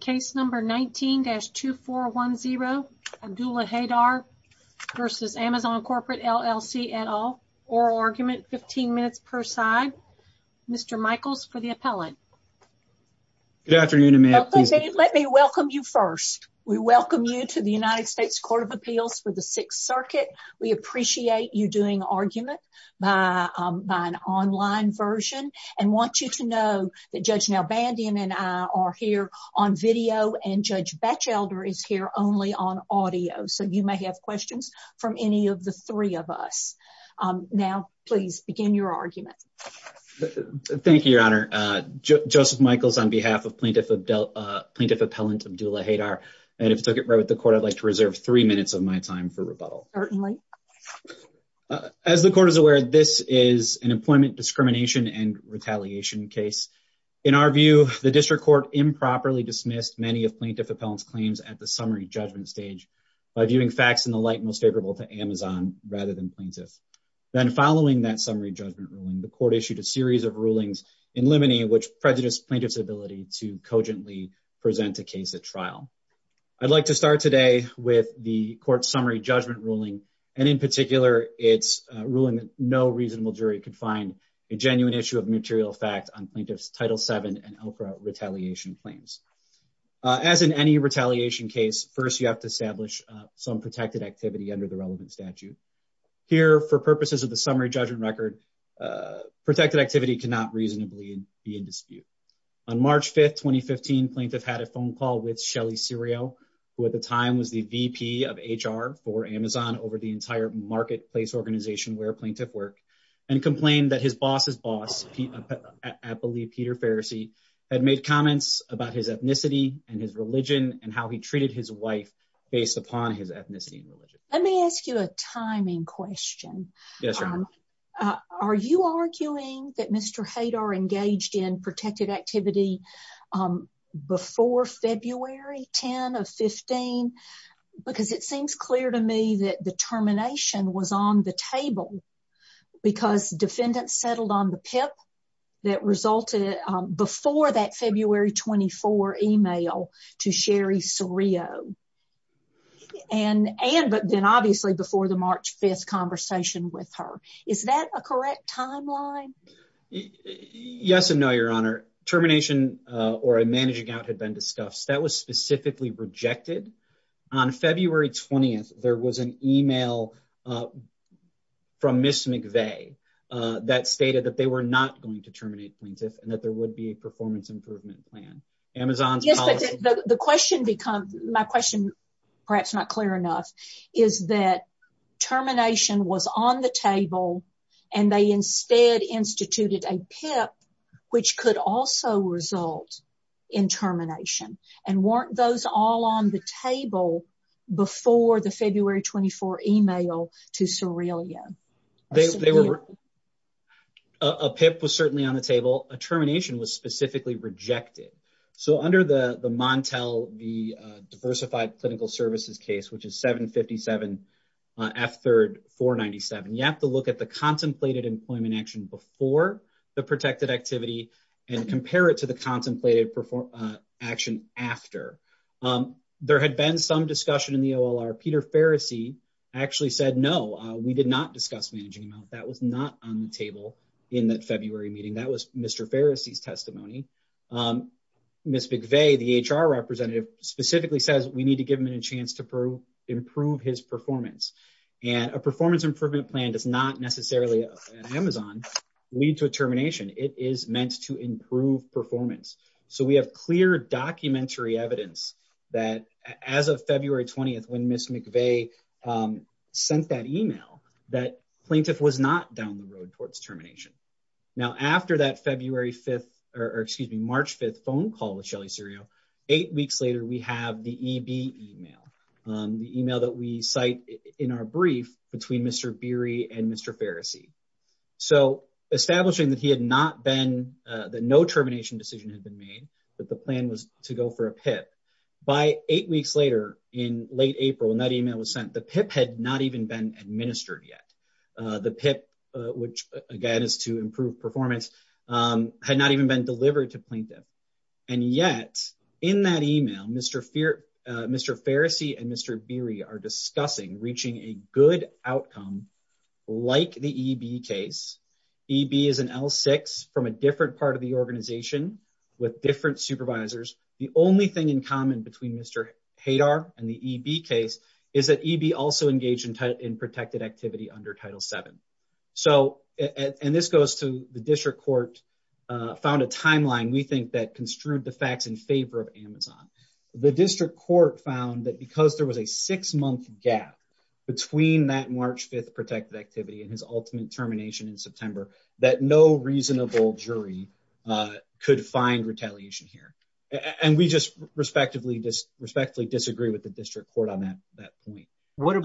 Case number 19-2410 Abdullah Haydar v. Amazon Corporate LLC et al. Oral argument, 15 minutes per side. Mr. Michaels for the appellant. Good afternoon, ma'am. Let me welcome you first. We welcome you to the United States Court of Appeals for the Sixth Circuit. We appreciate you doing argument by an online version and want you to know that Judge Nell Bandian and I are here on video and Judge Batchelder is here only on audio. So you may have questions from any of the three of us. Now, please begin your argument. Thank you, Your Honor. Joseph Michaels on behalf of Plaintiff Appellant Abdullah Haydar. And if it's okay with the court, I'd like to reserve three minutes of my time for rebuttal. Certainly. As the court is aware, this is an district court improperly dismissed many of Plaintiff Appellant's claims at the summary judgment stage by viewing facts in the light most favorable to Amazon rather than plaintiff. Then following that summary judgment ruling, the court issued a series of rulings in limine which prejudice plaintiff's ability to cogently present a case at trial. I'd like to start today with the court summary judgment ruling. And in particular, it's ruling that no reasonable jury could find a genuine issue of material fact on plaintiff's Title VII and ELCRA retaliation claims. As in any retaliation case, first, you have to establish some protected activity under the relevant statute. Here, for purposes of the summary judgment record, protected activity cannot reasonably be in dispute. On March 5, 2015, plaintiff had a phone call with Shelley Serio, who at the time was the VP of HR for Amazon over the entire marketplace organization where plaintiff worked, and complained that his boss's boss, I believe Peter Farrisee, had made comments about his ethnicity and his religion and how he treated his wife based upon his ethnicity and religion. Let me ask you a timing question. Yes. Are you arguing that Mr. Hadar engaged in protected activity before February 10 of 15? Because it seems clear to me that the termination was on the table because defendants settled on the PIP that resulted before that February 24 email to Sherry Serio. And then obviously before the March 5 conversation with her. Is that a correct timeline? Yes and no, Your Honor. Termination or a managing out had been discussed. That was specifically rejected. On February 20, there was an email from Ms. McVeigh that stated that they were not going to terminate plaintiff and that there would be a performance improvement plan. Amazon's policy. The question becomes, my question, perhaps not clear enough, is that termination was on the table and they instead instituted a PIP, which could also result in termination. And weren't those all on the table before the February 24 email to Serio? A PIP was certainly on the table. A termination was specifically rejected. So under the Montel, the diversified clinical services case, which is 757 F 3rd 497, you have to look at the contemplated employment action before the protected activity and compare it to the contemplated action after. There had been some discussion in the OLR. Peter Farrisee actually said, no, we did not discuss managing amount. That was not on the table in that February meeting. That was Mr. Farrisee's testimony. Ms. McVeigh, the HR representative, specifically says we need to give him a chance to improve his performance. And a performance improvement plan does not necessarily Amazon lead to a termination. It is meant to improve performance. So we have clear documentary evidence that as of February 20th, when Ms. McVeigh sent that email, that plaintiff was not down the road towards termination. Now after that February 5th, or excuse me, March 5th phone call with Shelly Serio, eight weeks later, we have the EB email. The email that we cite in our brief between Mr. Beery and Mr. Farrisee. So establishing that he had not been, that no termination decision had been made, that the plan was to go for a PIP. By eight weeks later in late April, when that email was sent, the PIP had not even been administered yet. The PIP, which again is to improve performance, had not even been delivered to plaintiff. And yet in that email, Mr. Farrisee and Mr. Beery are discussing reaching a good outcome like the EB case. EB is an L6 from a different part of the organization with different supervisors. The only thing in common between Mr. Hadar and the EB case is that EB also engaged in protected activity under Title VII. And this goes to the district court found a timeline we think that construed the facts in favor of Amazon. The district court found that because there was a six month gap between that March 5th protected activity and his ultimate termination in September, that no reasonable jury could find retaliation here. And we just respectfully disagree with the district court on that point. What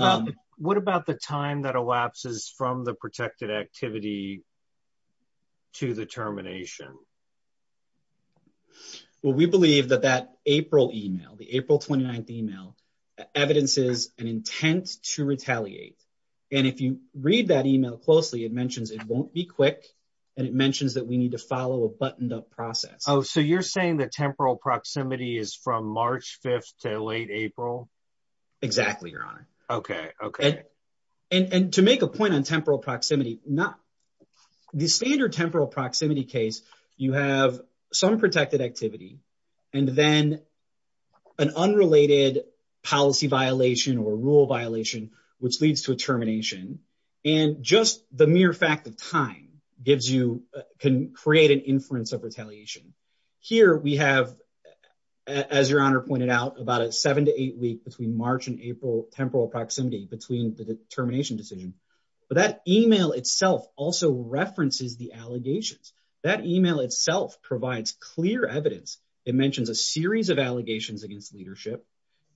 about the time that elapses from the protected activity to the termination? Well, we believe that that April email, the April 29th email, evidences an intent to retaliate. And if you read that email closely, it mentions it won't be quick and it mentions that we need to follow a buttoned up process. So you're saying that temporal proximity is from March 5th to late April? Exactly, Your Honor. And to make a point on temporal proximity, the standard temporal proximity case, you have some protected activity and then an unrelated policy violation or rule violation, which leads to a termination. And just the mere fact that time can create an inference of retaliation. Here we have, as Your Honor pointed out, about a seven to eight week between March and April temporal proximity between the termination decision. But that email itself also references the allegations. That email itself provides clear evidence. It mentions a series of allegations against leadership.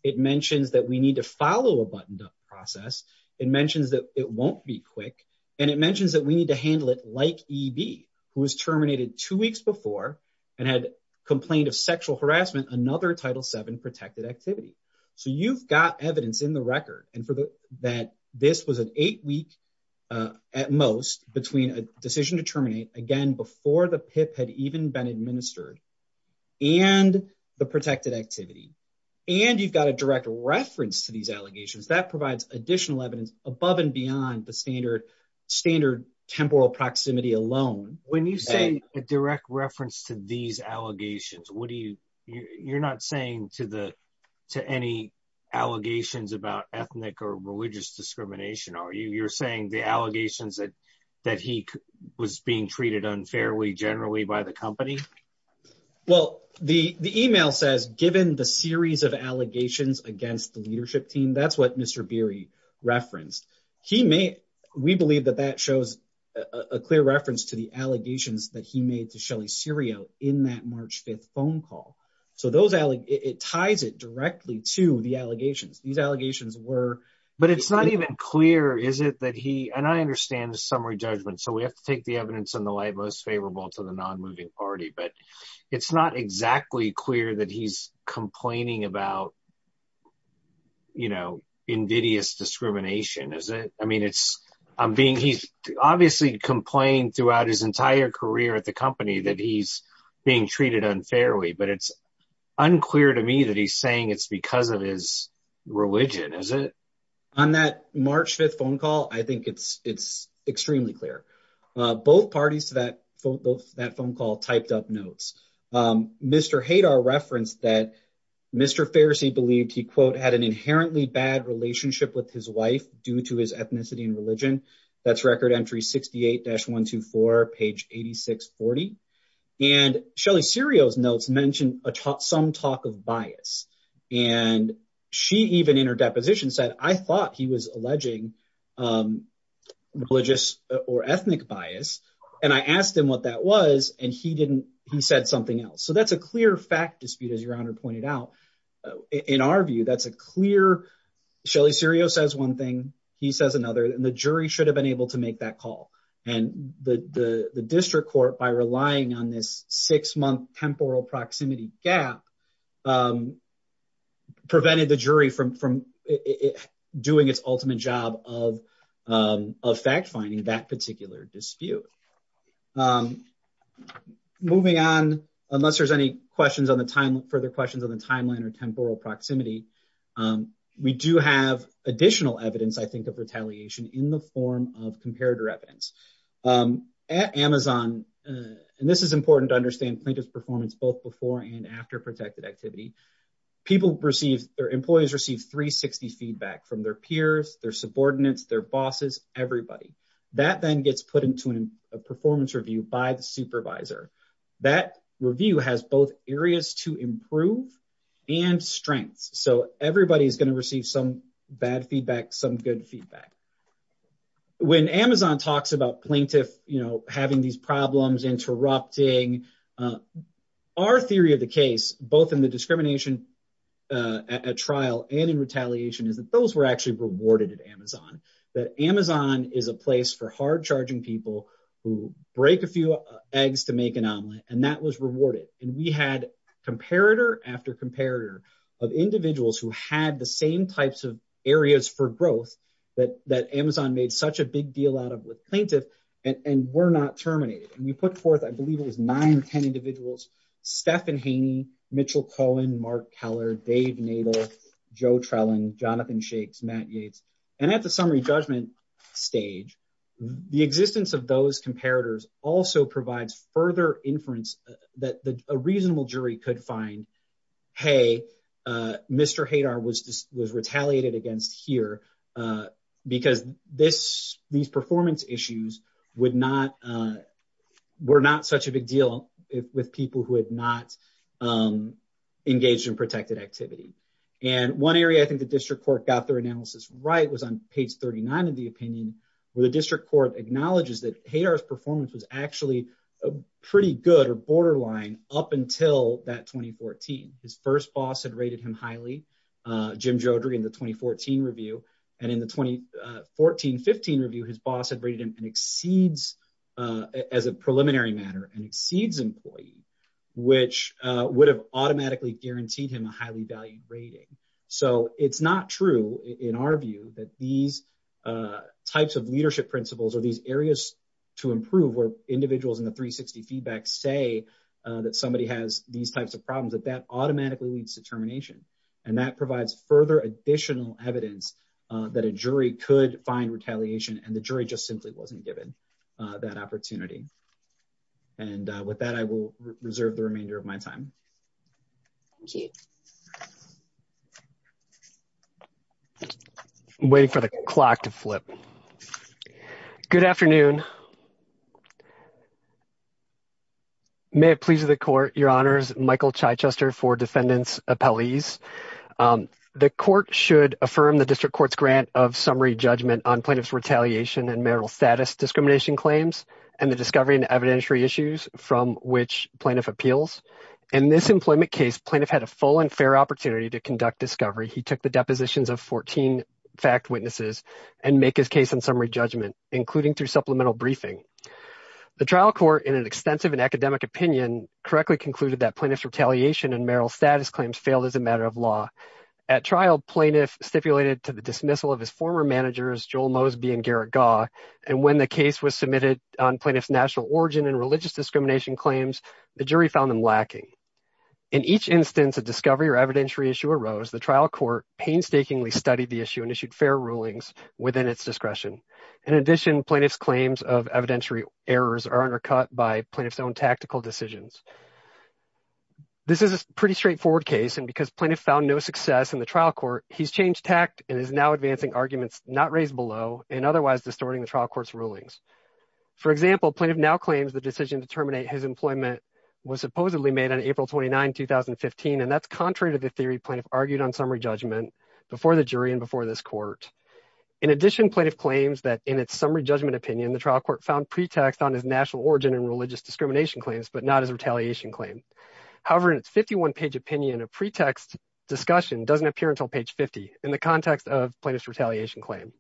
It mentions that we need to follow a buttoned up process. It mentions that it won't be quick. And it mentions that we need to handle it like EB, who was terminated two weeks before and had complained of sexual harassment, another Title VII protected activity. So you've got evidence in the record that this was an eight week at most between a decision to terminate, again, before the PIP had even been administered and the protected activity. And you've got a direct reference to these allegations that provides additional evidence above and beyond the standard temporal proximity alone. When you say a direct reference to these allegations, you're not saying to any allegations about ethnic or religious discrimination, are you? You're saying the allegations that he was being treated unfairly generally by the company? Well, the email says, given the series of allegations against the leadership team, that's what Mr. Beery referenced. We believe that that shows a clear reference to the allegations that he made to Shelley Serio in that March 5th phone call. So it ties it directly to the allegations. These allegations were- But it's not even clear, is it, that he, and I understand the summary judgment. So we have to take the evidence in the light most favorable to the non-moving party. But it's not exactly clear that he's complaining about invidious discrimination, is it? I mean, he's obviously complained throughout his entire career at the company that he's being treated unfairly. But it's unclear to me that he's saying it's because of his religion, is it? On that March 5th phone call, I think it's extremely clear. Both parties to that phone call typed up notes. Mr. Hadar referenced that Mr. Farsi believed he, quote, had an inherently bad relationship with his wife due to his ethnicity and religion. That's record entry 68-124, page 8640. And Shelley Serio's notes mentioned some talk of bias. And she even in her deposition said, I thought he was alleging religious or ethnic bias. And I asked him what that was, and he said something else. So that's a clear fact dispute, as Your Honor pointed out. In our view, that's a clear, Shelley Serio says one thing, he says another, and the jury should have been able to make that call. And the district court, by relying on this six-month temporal proximity gap, prevented the jury from doing its ultimate job of fact-finding that particular dispute. Moving on, unless there's any further questions on the timeline or temporal proximity, we do have additional evidence, I think, of retaliation in the form of comparator evidence. At Amazon, and this is important to understand plaintiff's performance both before and after protected activity, employees receive 360 feedback from their peers, their subordinates, their bosses, everybody. That then gets put into a performance review by the supervisor. That review has both areas to improve and strengths. So everybody is going to receive some bad feedback, some good feedback. When Amazon talks about plaintiff, you know, having these problems, interrupting, our theory of the case, both in the discrimination at trial and in retaliation, is that those were actually rewarded at Amazon. That Amazon is a place for hard-charging people who break a few eggs to make an omelet, and that was rewarded. And we had comparator after comparator of individuals who had the same types of areas for growth that Amazon made such a big deal out of with plaintiff, and were not terminated. And we had David Keller, Dave Nadel, Joe Trellin, Jonathan Shakes, Matt Yates. And at the summary judgment stage, the existence of those comparators also provides further inference that a reasonable jury could find, hey, Mr. Hadar was retaliated against here because these performance issues would not, were not such a big deal with people who had not engaged in protected activity. And one area I think the district court got their analysis right was on page 39 of the opinion, where the district court acknowledges that Hadar's performance was actually pretty good or borderline up until that 2014. His first boss had rated him highly, Jim Jodry, in the 2014 review. And in the 2014-15 review, his boss had rated him an exceeds, as a preliminary matter, an exceeds employee, which would have automatically guaranteed him a highly valued rating. So it's not true in our view that these types of leadership principles or these areas to improve where individuals in the 360 feedback say that somebody has these types of further additional evidence that a jury could find retaliation and the jury just simply wasn't given that opportunity. And with that, I will reserve the remainder of my time. Waiting for the clock to flip. Good afternoon. May it please the court, your honors, Michael Chichester for defendants appellees. The court should affirm the district court's grant of summary judgment on plaintiff's retaliation and marital status discrimination claims and the discovery and evidentiary issues from which plaintiff appeals. In this employment case, plaintiff had a full and fair opportunity to conduct discovery. He took the depositions of 14 fact witnesses and make his case in summary judgment, including through supplemental briefing. The trial court in an extensive and academic opinion correctly concluded that plaintiff's retaliation and marital status claims failed as a matter of law. At trial, plaintiff stipulated to the dismissal of his former managers, Joel Mosby and Garrett Gaw. And when the case was submitted on plaintiff's national origin and religious discrimination claims, the jury found them lacking. In each instance of discovery or evidentiary issue arose, the trial court painstakingly studied the issue and issued fair rulings within its discretion. In addition, plaintiff's claims of evidentiary errors are undercut by plaintiff's own tactical decisions. This is a pretty straightforward case, and because plaintiff found no success in the trial court, he's changed tact and is now advancing arguments not raised below and otherwise distorting the trial court's rulings. For example, plaintiff now claims the decision to terminate his employment was supposedly made on April 29, 2015, and that's contrary to the theory plaintiff argued on summary judgment before the jury and before this court. In addition, plaintiff claims that in its summary judgment opinion, the trial court found pretext on his national origin and religious discrimination claims, but not his retaliation claim. However, in its 51-page opinion, a pretext discussion doesn't appear until page 50 in the context of plaintiff's retaliation claim.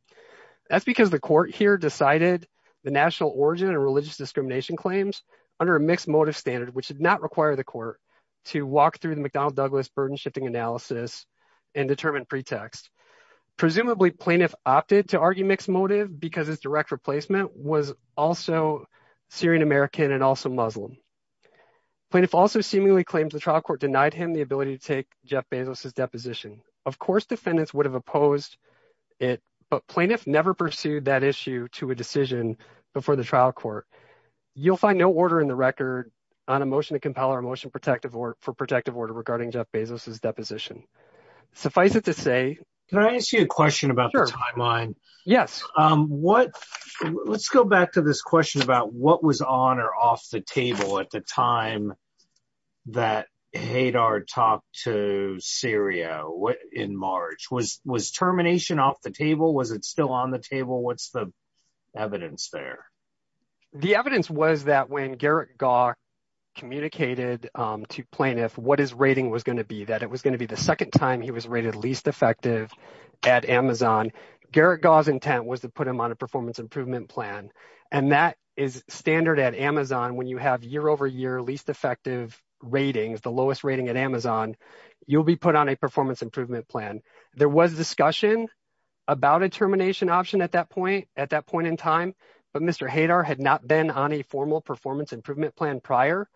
That's because the court here decided the national origin and religious discrimination claims under a mixed motive standard, which did not require the court to walk through the McDonnell Douglas burden shifting analysis and determine pretext. Presumably, plaintiff opted to argue mixed motive because his direct replacement was also Syrian-American and also Muslim. Plaintiff also seemingly claims the trial court denied him the ability to take Jeff Bezos's deposition. Of course, defendants would have opposed it, but plaintiff never pursued that issue to a decision before the trial court. You'll find no order in the record on a motion to compel our motion for protective order regarding Jeff Bezos's deposition. Suffice it to say... Yes. Let's go back to this question about what was on or off the table at the time that Hadar talked to Syria in March. Was termination off the table? Was it still on the table? What's the evidence there? The evidence was that when Garrett Gaw communicated to plaintiff what his rating was going to be, that it was going to be the second time he was rated least effective at Amazon. Garrett Gaw's intent was to put him on a performance improvement plan, and that is standard at Amazon. When you have year-over-year least effective ratings, the lowest rating at Amazon, you'll be put on a performance improvement plan. There was discussion about a termination option at that point in time, but Mr. Hadar had not been on a formal performance improvement plan prior.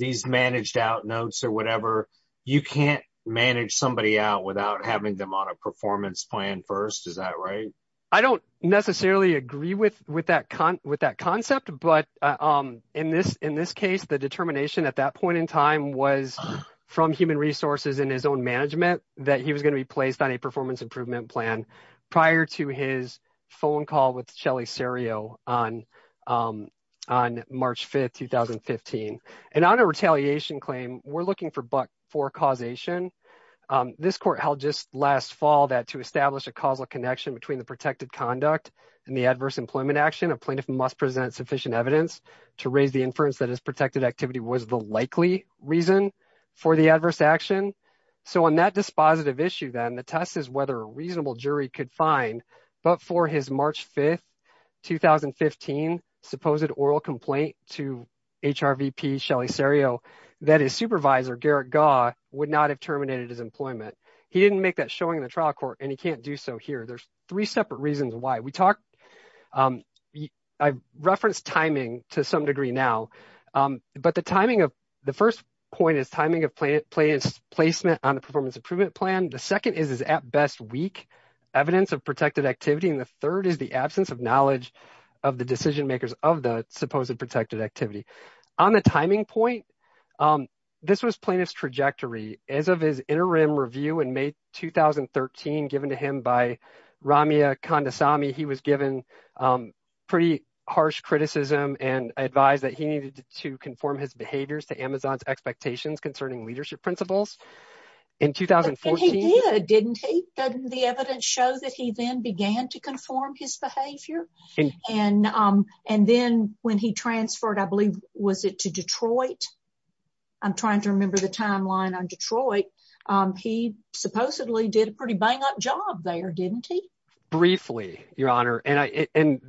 This managed out notes or whatever, you can't manage somebody out without having them on a performance plan first. Is that right? I don't necessarily agree with that concept, but in this case, the determination at that point in time was from human resources and his own management that he was going to be placed on a performance improvement plan prior to his phone call with Shelley Serio on March 5th, 2015. On a retaliation claim, we're looking for causation. This court held just last fall that to establish a causal connection between the protected conduct and the adverse employment action, a plaintiff must present sufficient evidence to raise the inference that his protected activity was the likely reason for the adverse action. On that dispositive issue then, the test is whether a reasonable jury could find, but for his March 5th, 2015, supposed oral complaint to HRVP Shelley Serio, that his supervisor, Garrett Gaw, would not have terminated his employment. He didn't make that showing in the trial court, and he can't do so here. There's three separate reasons why. I've referenced timing to some degree now, but the timing of the first point is timing of plaintiff's placement on the performance improvement plan. The second is his, at best, weak evidence of protected activity, and the third is the absence of knowledge of the decision makers of the supposed protected activity. On the timing point, this was plaintiff's trajectory. As of his interim review in May 2013, given to him by Ramya Kondasamy, he was given pretty harsh criticism and advised that he needed to conform his behaviors to Amazon's expectations concerning leadership principles. In 2014, he did, didn't he? Didn't the evidence show that he then began to conform his behavior? And then when he transferred, I believe, was it to Detroit? I'm trying to remember the timeline on Detroit. He supposedly did a pretty bang-up job there, didn't he? Briefly, Your Honor, and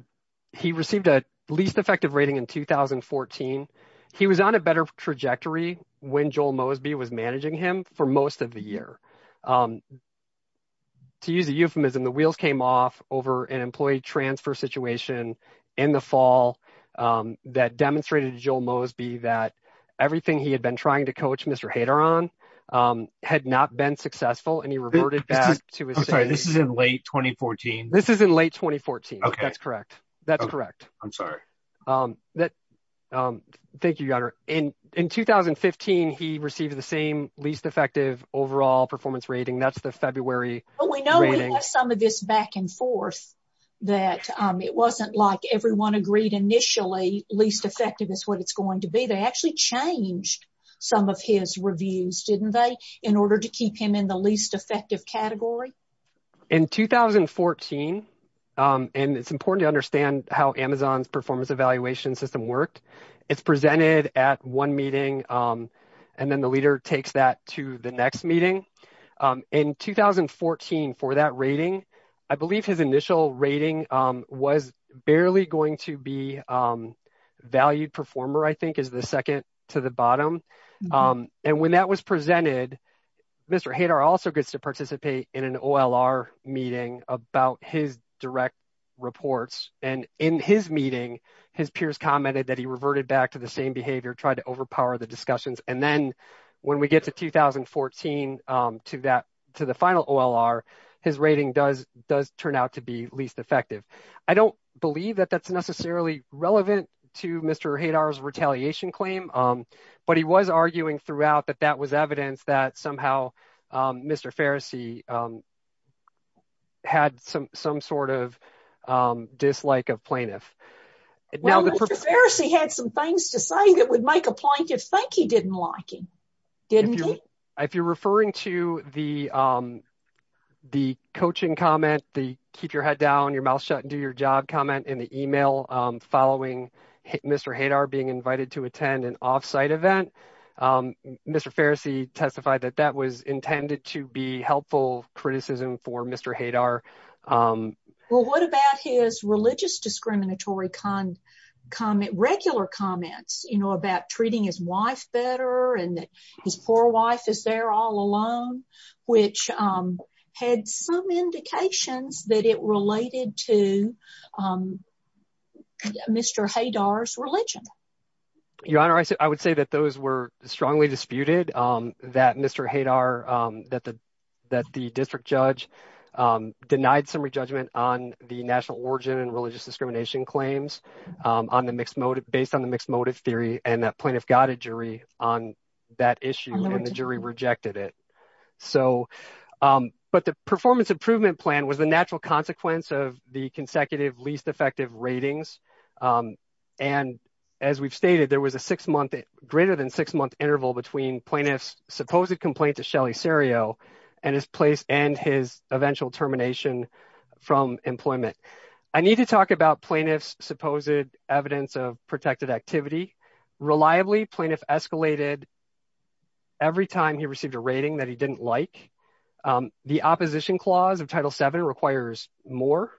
he received a least effective rating in 2014. He was on a better trajectory when Joel Mosby was managing him for most of the year. To use a euphemism, the wheels came off over an employee transfer situation in the fall that demonstrated to Joel Mosby that everything he had been trying to coach Mr. Haderon had not been successful, and he reverted back to his... I'm sorry, this is in late 2014? This is in late 2014. Okay. That's correct. That's correct. I'm sorry. Thank you, Your Honor. In 2015, he received the same least effective overall performance rating. That's the February... Well, we know we have some of this back and forth that it wasn't like everyone agreed initially least effective is what it's going to be. They actually changed some of his reviews, didn't they, in order to keep him in the least effective category? In 2014, and it's important to understand how Amazon's performance evaluation system worked, it's presented at one meeting, and then the leader takes that to the next meeting. In 2014, for that rating, I believe his initial rating was barely going to be valued performer, I think, is the second to the bottom. And when that was presented, Mr. Haderon also gets to participate in an OLR meeting about his direct reports. And in his meeting, his peers commented that he reverted back to the same behavior, tried to overpower the discussions. And then when we get to 2014, to the final OLR, his rating does turn out to be least effective. I don't believe that that's necessarily relevant to Mr. Haderon's retaliation claim. But he was arguing throughout that that was evidence that somehow Mr. Farrisee had some sort of dislike of plaintiff. Well, Mr. Farrisee had some things to say that would make a plaintiff think he didn't like him, didn't he? If you're referring to the coaching comment, the keep your head down, your mouth shut, and do your job comment in the email following Mr. Hadar being invited to attend an off-site event, Mr. Farrisee testified that that was intended to be helpful criticism for Mr. Hadar. Well, what about his religious discriminatory comment, regular comments, you know, about treating his wife better and that his poor wife is there all alone, which had some indications that it related to Mr. Hadar's religion? Your Honor, I would say that those were strongly disputed, that Mr. Hadar, that the district judge denied some re-judgment on the national origin and religious discrimination claims based on the mixed motive theory, and that plaintiff got a jury on that issue and the jury rejected it. But the performance improvement plan was the natural consequence of the consecutive least effective ratings. And as we've stated, there was a greater than six-month interval between plaintiff's supposed complaint to Shelley Cereo and his place and his eventual termination from employment. I need to talk about plaintiff's supposed evidence of protected activity. Reliably, plaintiff escalated every time he received a rating that he didn't like. The opposition clause of Title VII requires more.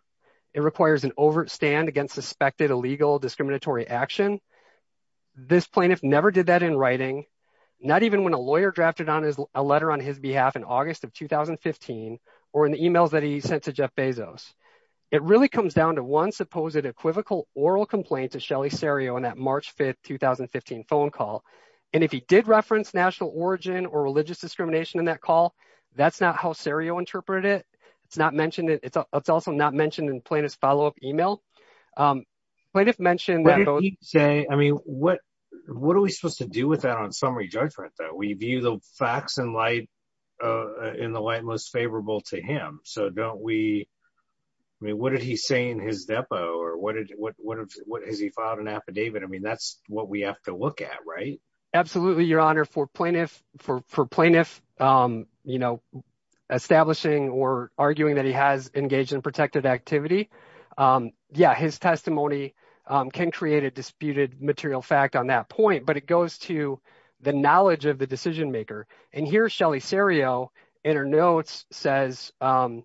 It requires an overt stand against suspected illegal discriminatory action. This plaintiff never did that in writing, not even when a lawyer drafted a letter on his behalf in August of 2015 or in the emails that he sent to Jeff Bezos. It really comes down to one supposed equivocal oral complaint to Shelley Cereo in that March 5, 2015 phone call. And if he did reference national origin or religious discrimination in that call, that's not how Cereo interpreted it. It's also not mentioned in plaintiff's follow-up email. What did he say? What are we supposed to do with that on summary judgment, though? We view the facts and light in the light most favorable to him. What did he say in his depo? Has he filed an affidavit? That's what we have to look at, right? Absolutely, Your Honor. For plaintiff establishing or arguing that he has engaged in protected activity, yeah, his testimony can create a disputed material fact on that point. But it goes to the knowledge of the decision-maker. And here, Shelley Cereo in her notes says that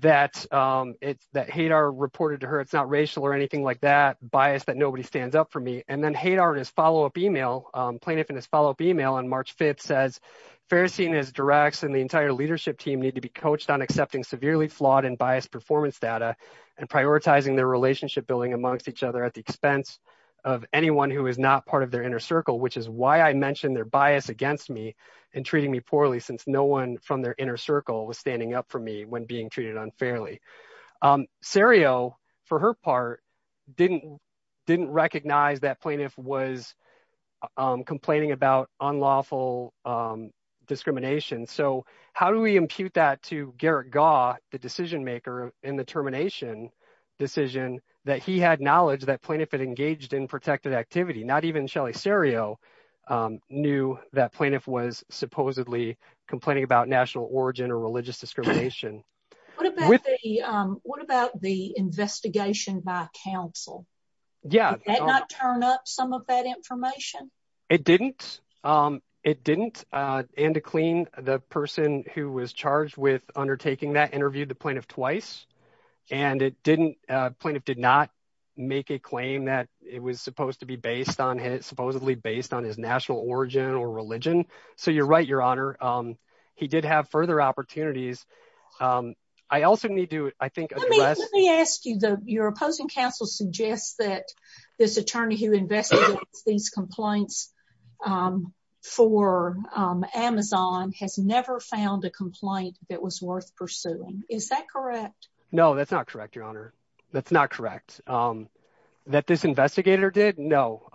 HADAR reported to her it's not racial or anything like that, bias that nobody stands up for me. And then HADAR in his follow-up email, plaintiff in his follow-up email on March 5 says, Ferestein is directs and the entire leadership team need to be coached on accepting severely flawed and biased performance data and prioritizing their relationship building amongst each other at the expense of anyone who is not part of their inner circle, which is why I mentioned their bias against me and treating me poorly since no one from their inner circle was standing up for me when being treated unfairly. Cereo, for her part, didn't recognize that plaintiff was complaining about unlawful discrimination. So how do we impute that to the decision-maker in the termination decision that he had knowledge that plaintiff had engaged in protected activity? Not even Shelley Cereo knew that plaintiff was supposedly complaining about national origin or religious discrimination. What about the investigation by counsel? Yeah. Did that not turn up some of that information? It didn't. It didn't. And to the person who was charged with undertaking that interviewed the plaintiff twice. And it didn't, plaintiff did not make a claim that it was supposed to be based on his, supposedly based on his national origin or religion. So you're right, your honor. He did have further opportunities. I also need to, I think, let me ask you, your opposing counsel suggests that this attorney who investigated these complaints for Amazon has never found a complaint that was worth pursuing. Is that correct? No, that's not correct, your honor. That's not correct. That this investigator did? No.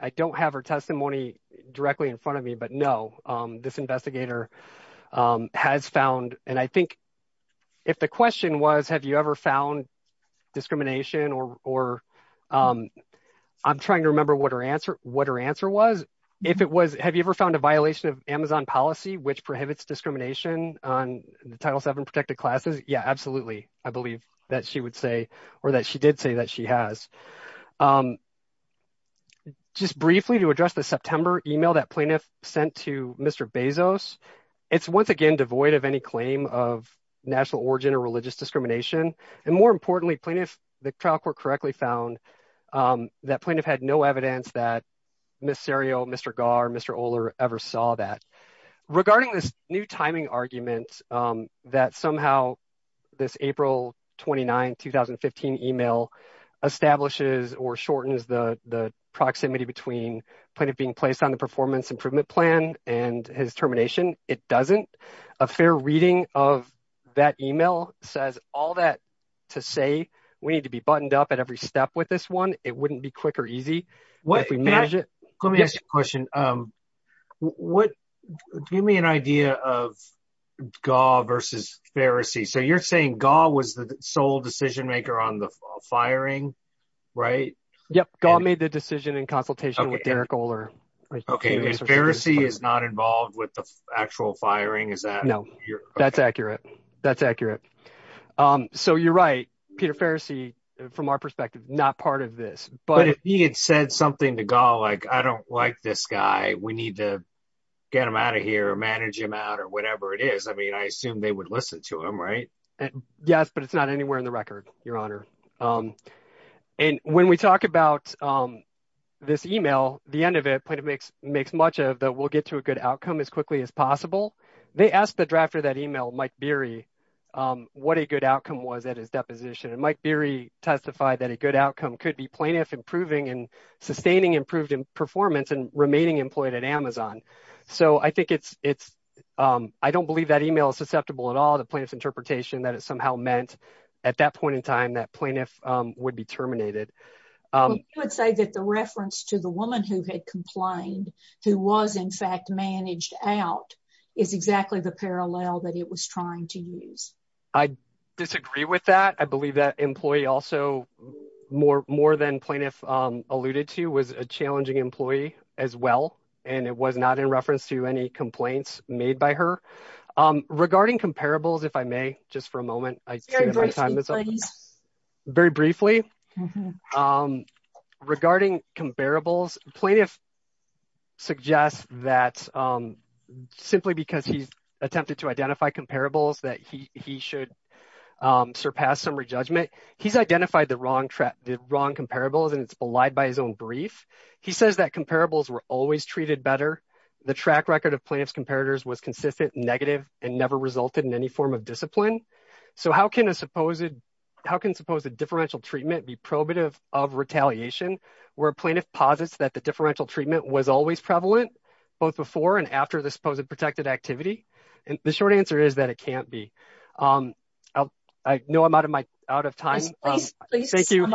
I don't have her testimony directly in front of me, but no, this investigator has found. And I think if the question was, have you ever found discrimination or, or I'm trying to remember what her answer, what her answer was. If it was, have you ever found a violation of Amazon policy, which prohibits discrimination on the Title VII protected classes? Yeah, absolutely. I believe that she would say, or that she did say that she has. Just briefly to address the September email that plaintiff sent to Mr. Bezos. It's once again, devoid of any claim of national origin or religious discrimination. And more importantly, plaintiff, the trial court correctly found that plaintiff had no evidence that Ms. Serio, Mr. Gar, Mr. Oler ever saw that. Regarding this new timing argument that somehow this April 29, 2015 email establishes or shortens the proximity between plaintiff being placed on performance improvement plan and his termination. It doesn't. A fair reading of that email says all that to say, we need to be buttoned up at every step with this one. It wouldn't be quick or easy. Let me ask you a question. Give me an idea of Gar versus Ferris. So you're saying Gar was the sole decision maker on the firing, right? Yep. Gar made the decision in consultation with Derek is not involved with the actual firing. Is that? No, that's accurate. That's accurate. So you're right. Peter Ferris, he, from our perspective, not part of this, but he had said something to Gar, like, I don't like this guy. We need to get him out of here, manage him out or whatever it is. I mean, I assume they would listen to him, right? Yes, but it's not anywhere in the much of that we'll get to a good outcome as quickly as possible. They asked the drafter of that email, Mike Beery, what a good outcome was at his deposition. And Mike Beery testified that a good outcome could be plaintiff improving and sustaining improved performance and remaining employed at Amazon. So I think it's, I don't believe that email is susceptible at all to plaintiff's interpretation that it somehow meant at that point in time that plaintiff would be who was in fact managed out is exactly the parallel that it was trying to use. I disagree with that. I believe that employee also more than plaintiff alluded to was a challenging employee as well. And it was not in reference to any complaints made by her. Regarding comparables, if I may, just for a moment, very briefly, regarding comparables plaintiff suggests that simply because he's attempted to identify comparables that he should surpass some re-judgment. He's identified the wrong trap, the wrong comparables and it's belied by his own brief. He says that comparables were always treated better. The track record of plaintiff's comparators was consistent negative and never resulted in any of discipline. So how can a supposed, how can suppose a differential treatment be probative of retaliation where plaintiff posits that the differential treatment was always prevalent both before and after the supposed protected activity? And the short answer is that it can't be. I know I'm out of my, out of time. Thank you.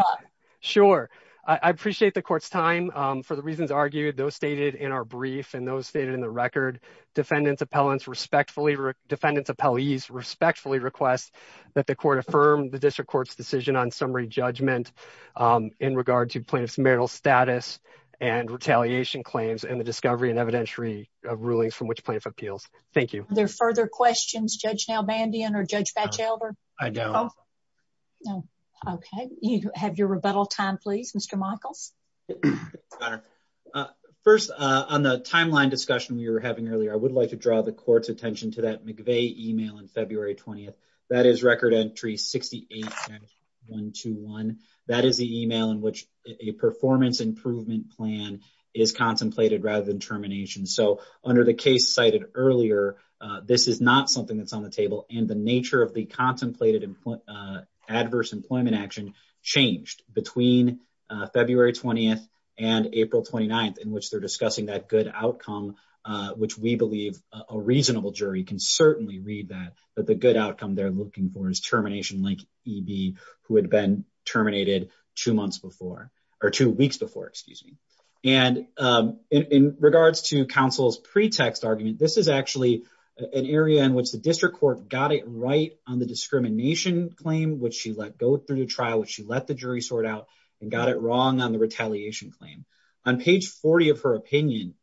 Sure. I appreciate the court's time for the reasons argued those stated in our brief and those stated in the record defendants appellants respectfully defendants appellees respectfully request that the court affirmed the district court's decision on summary judgment in regard to plaintiff's marital status and retaliation claims and the discovery and evidentiary rulings from which plaintiff appeals. Thank you. Are there further questions Judge Nalbandian or Judge Batchelder? I don't know. Okay. You have your rebuttal time, please, Mr. Michaels. Got it. First on the timeline discussion we were having earlier, I would like to draw the court's attention to that McVeigh email on February 20th. That is record entry 68-121. That is the email in which a performance improvement plan is contemplated rather than termination. So under the case cited earlier this is not something that's on the table and the April 29th in which they're discussing that good outcome which we believe a reasonable jury can certainly read that but the good outcome they're looking for is termination like EB who had been terminated two months before or two weeks before excuse me and in regards to counsel's pretext argument this is actually an area in which the district court got it right on the discrimination claim which she let go through the trial which she let the jury sort out and got it wrong on retaliation claim. On page 40 of her opinion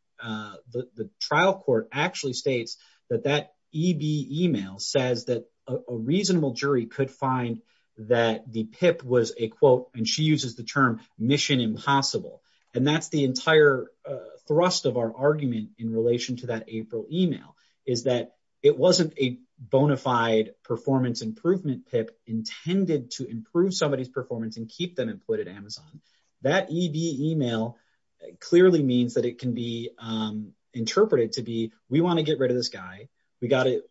the trial court actually states that that EB email says that a reasonable jury could find that the PIP was a quote and she uses the term mission impossible and that's the entire thrust of our argument in relation to that April email is that it wasn't a bona fide performance improvement PIP intended to improve somebody's Amazon. That EB email clearly means that it can be interpreted to be we want to get rid of this guy we got it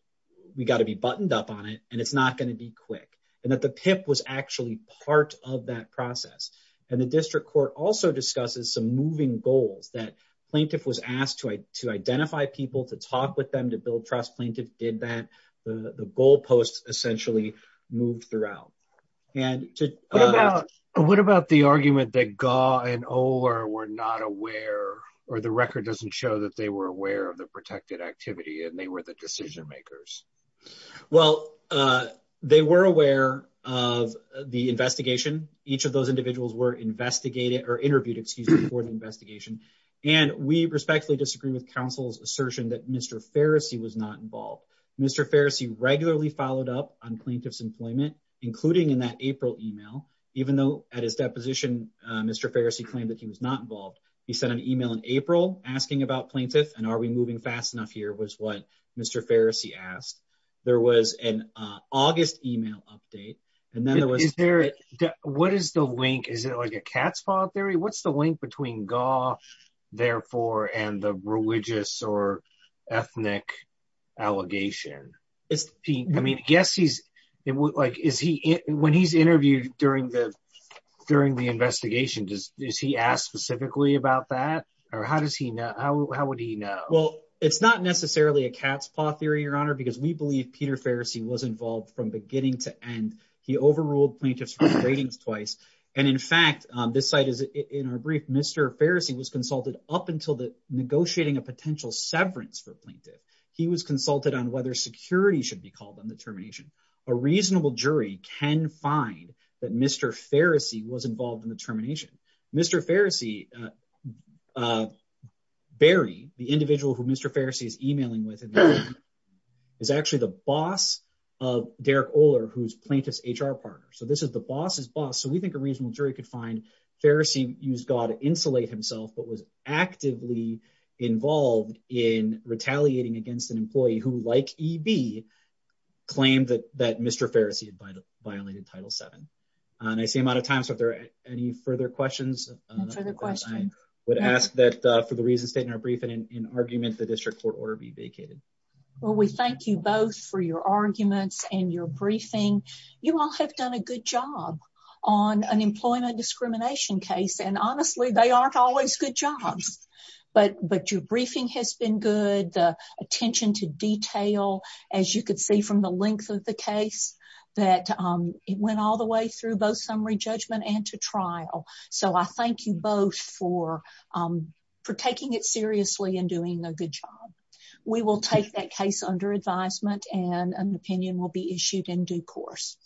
we got to be buttoned up on it and it's not going to be quick and that the PIP was actually part of that process and the district court also discusses some moving goals that plaintiff was asked to identify people to talk with them to build trust plaintiff did that the goal post essentially moved throughout. What about the argument that Gaugh and Oler were not aware or the record doesn't show that they were aware of the protected activity and they were the decision makers? Well they were aware of the investigation each of those individuals were investigated or interviewed excuse me for the investigation and we respectfully disagree with counsel's assertion that Mr. Farrisee was not involved Mr. Farrisee regularly followed up on plaintiff's employment including in that April email even though at his deposition Mr. Farrisee claimed that he was not involved he sent an email in April asking about plaintiff and are we moving fast enough here was what Mr. Farrisee asked there was an August email update and then there was is there what is the link is it like a cat's paw theory what's the link between Gaugh therefore and the religious or ethnic allegation? I mean yes he's it was like is he when he's interviewed during the during the investigation does is he asked specifically about that or how does he know how would he know? Well it's not necessarily a cat's paw theory your honor because we believe Peter Farrisee was involved from beginning to end he overruled plaintiffs ratings twice and in fact this site is in our brief Mr. Farrisee was consulted up until the negotiating a potential severance for plaintiff he was consulted on whether security should be called on the termination a reasonable jury can find that Mr. Farrisee was involved in the termination Mr. Farrisee Barry the individual who Mr. Farrisee is emailing with is actually the boss of Derek Oler who's plaintiff's HR partner so this is the boss's jury could find Farrisee used Gaugh to insulate himself but was actively involved in retaliating against an employee who like EB claimed that that Mr. Farrisee had violated title seven and I see I'm out of time so if there are any further questions I would ask that for the reason stated in our briefing in argument the district court order be vacated. Well we thank you both for your arguments and your briefing you all have done a good job on an employment discrimination case and honestly they aren't always good jobs but but your briefing has been good the attention to detail as you could see from the length of the case that it went all the way through both summary judgment and to trial so I thank you both for for taking it seriously and doing a good job. We will take that case under advisement and an opinion will be issued in due course.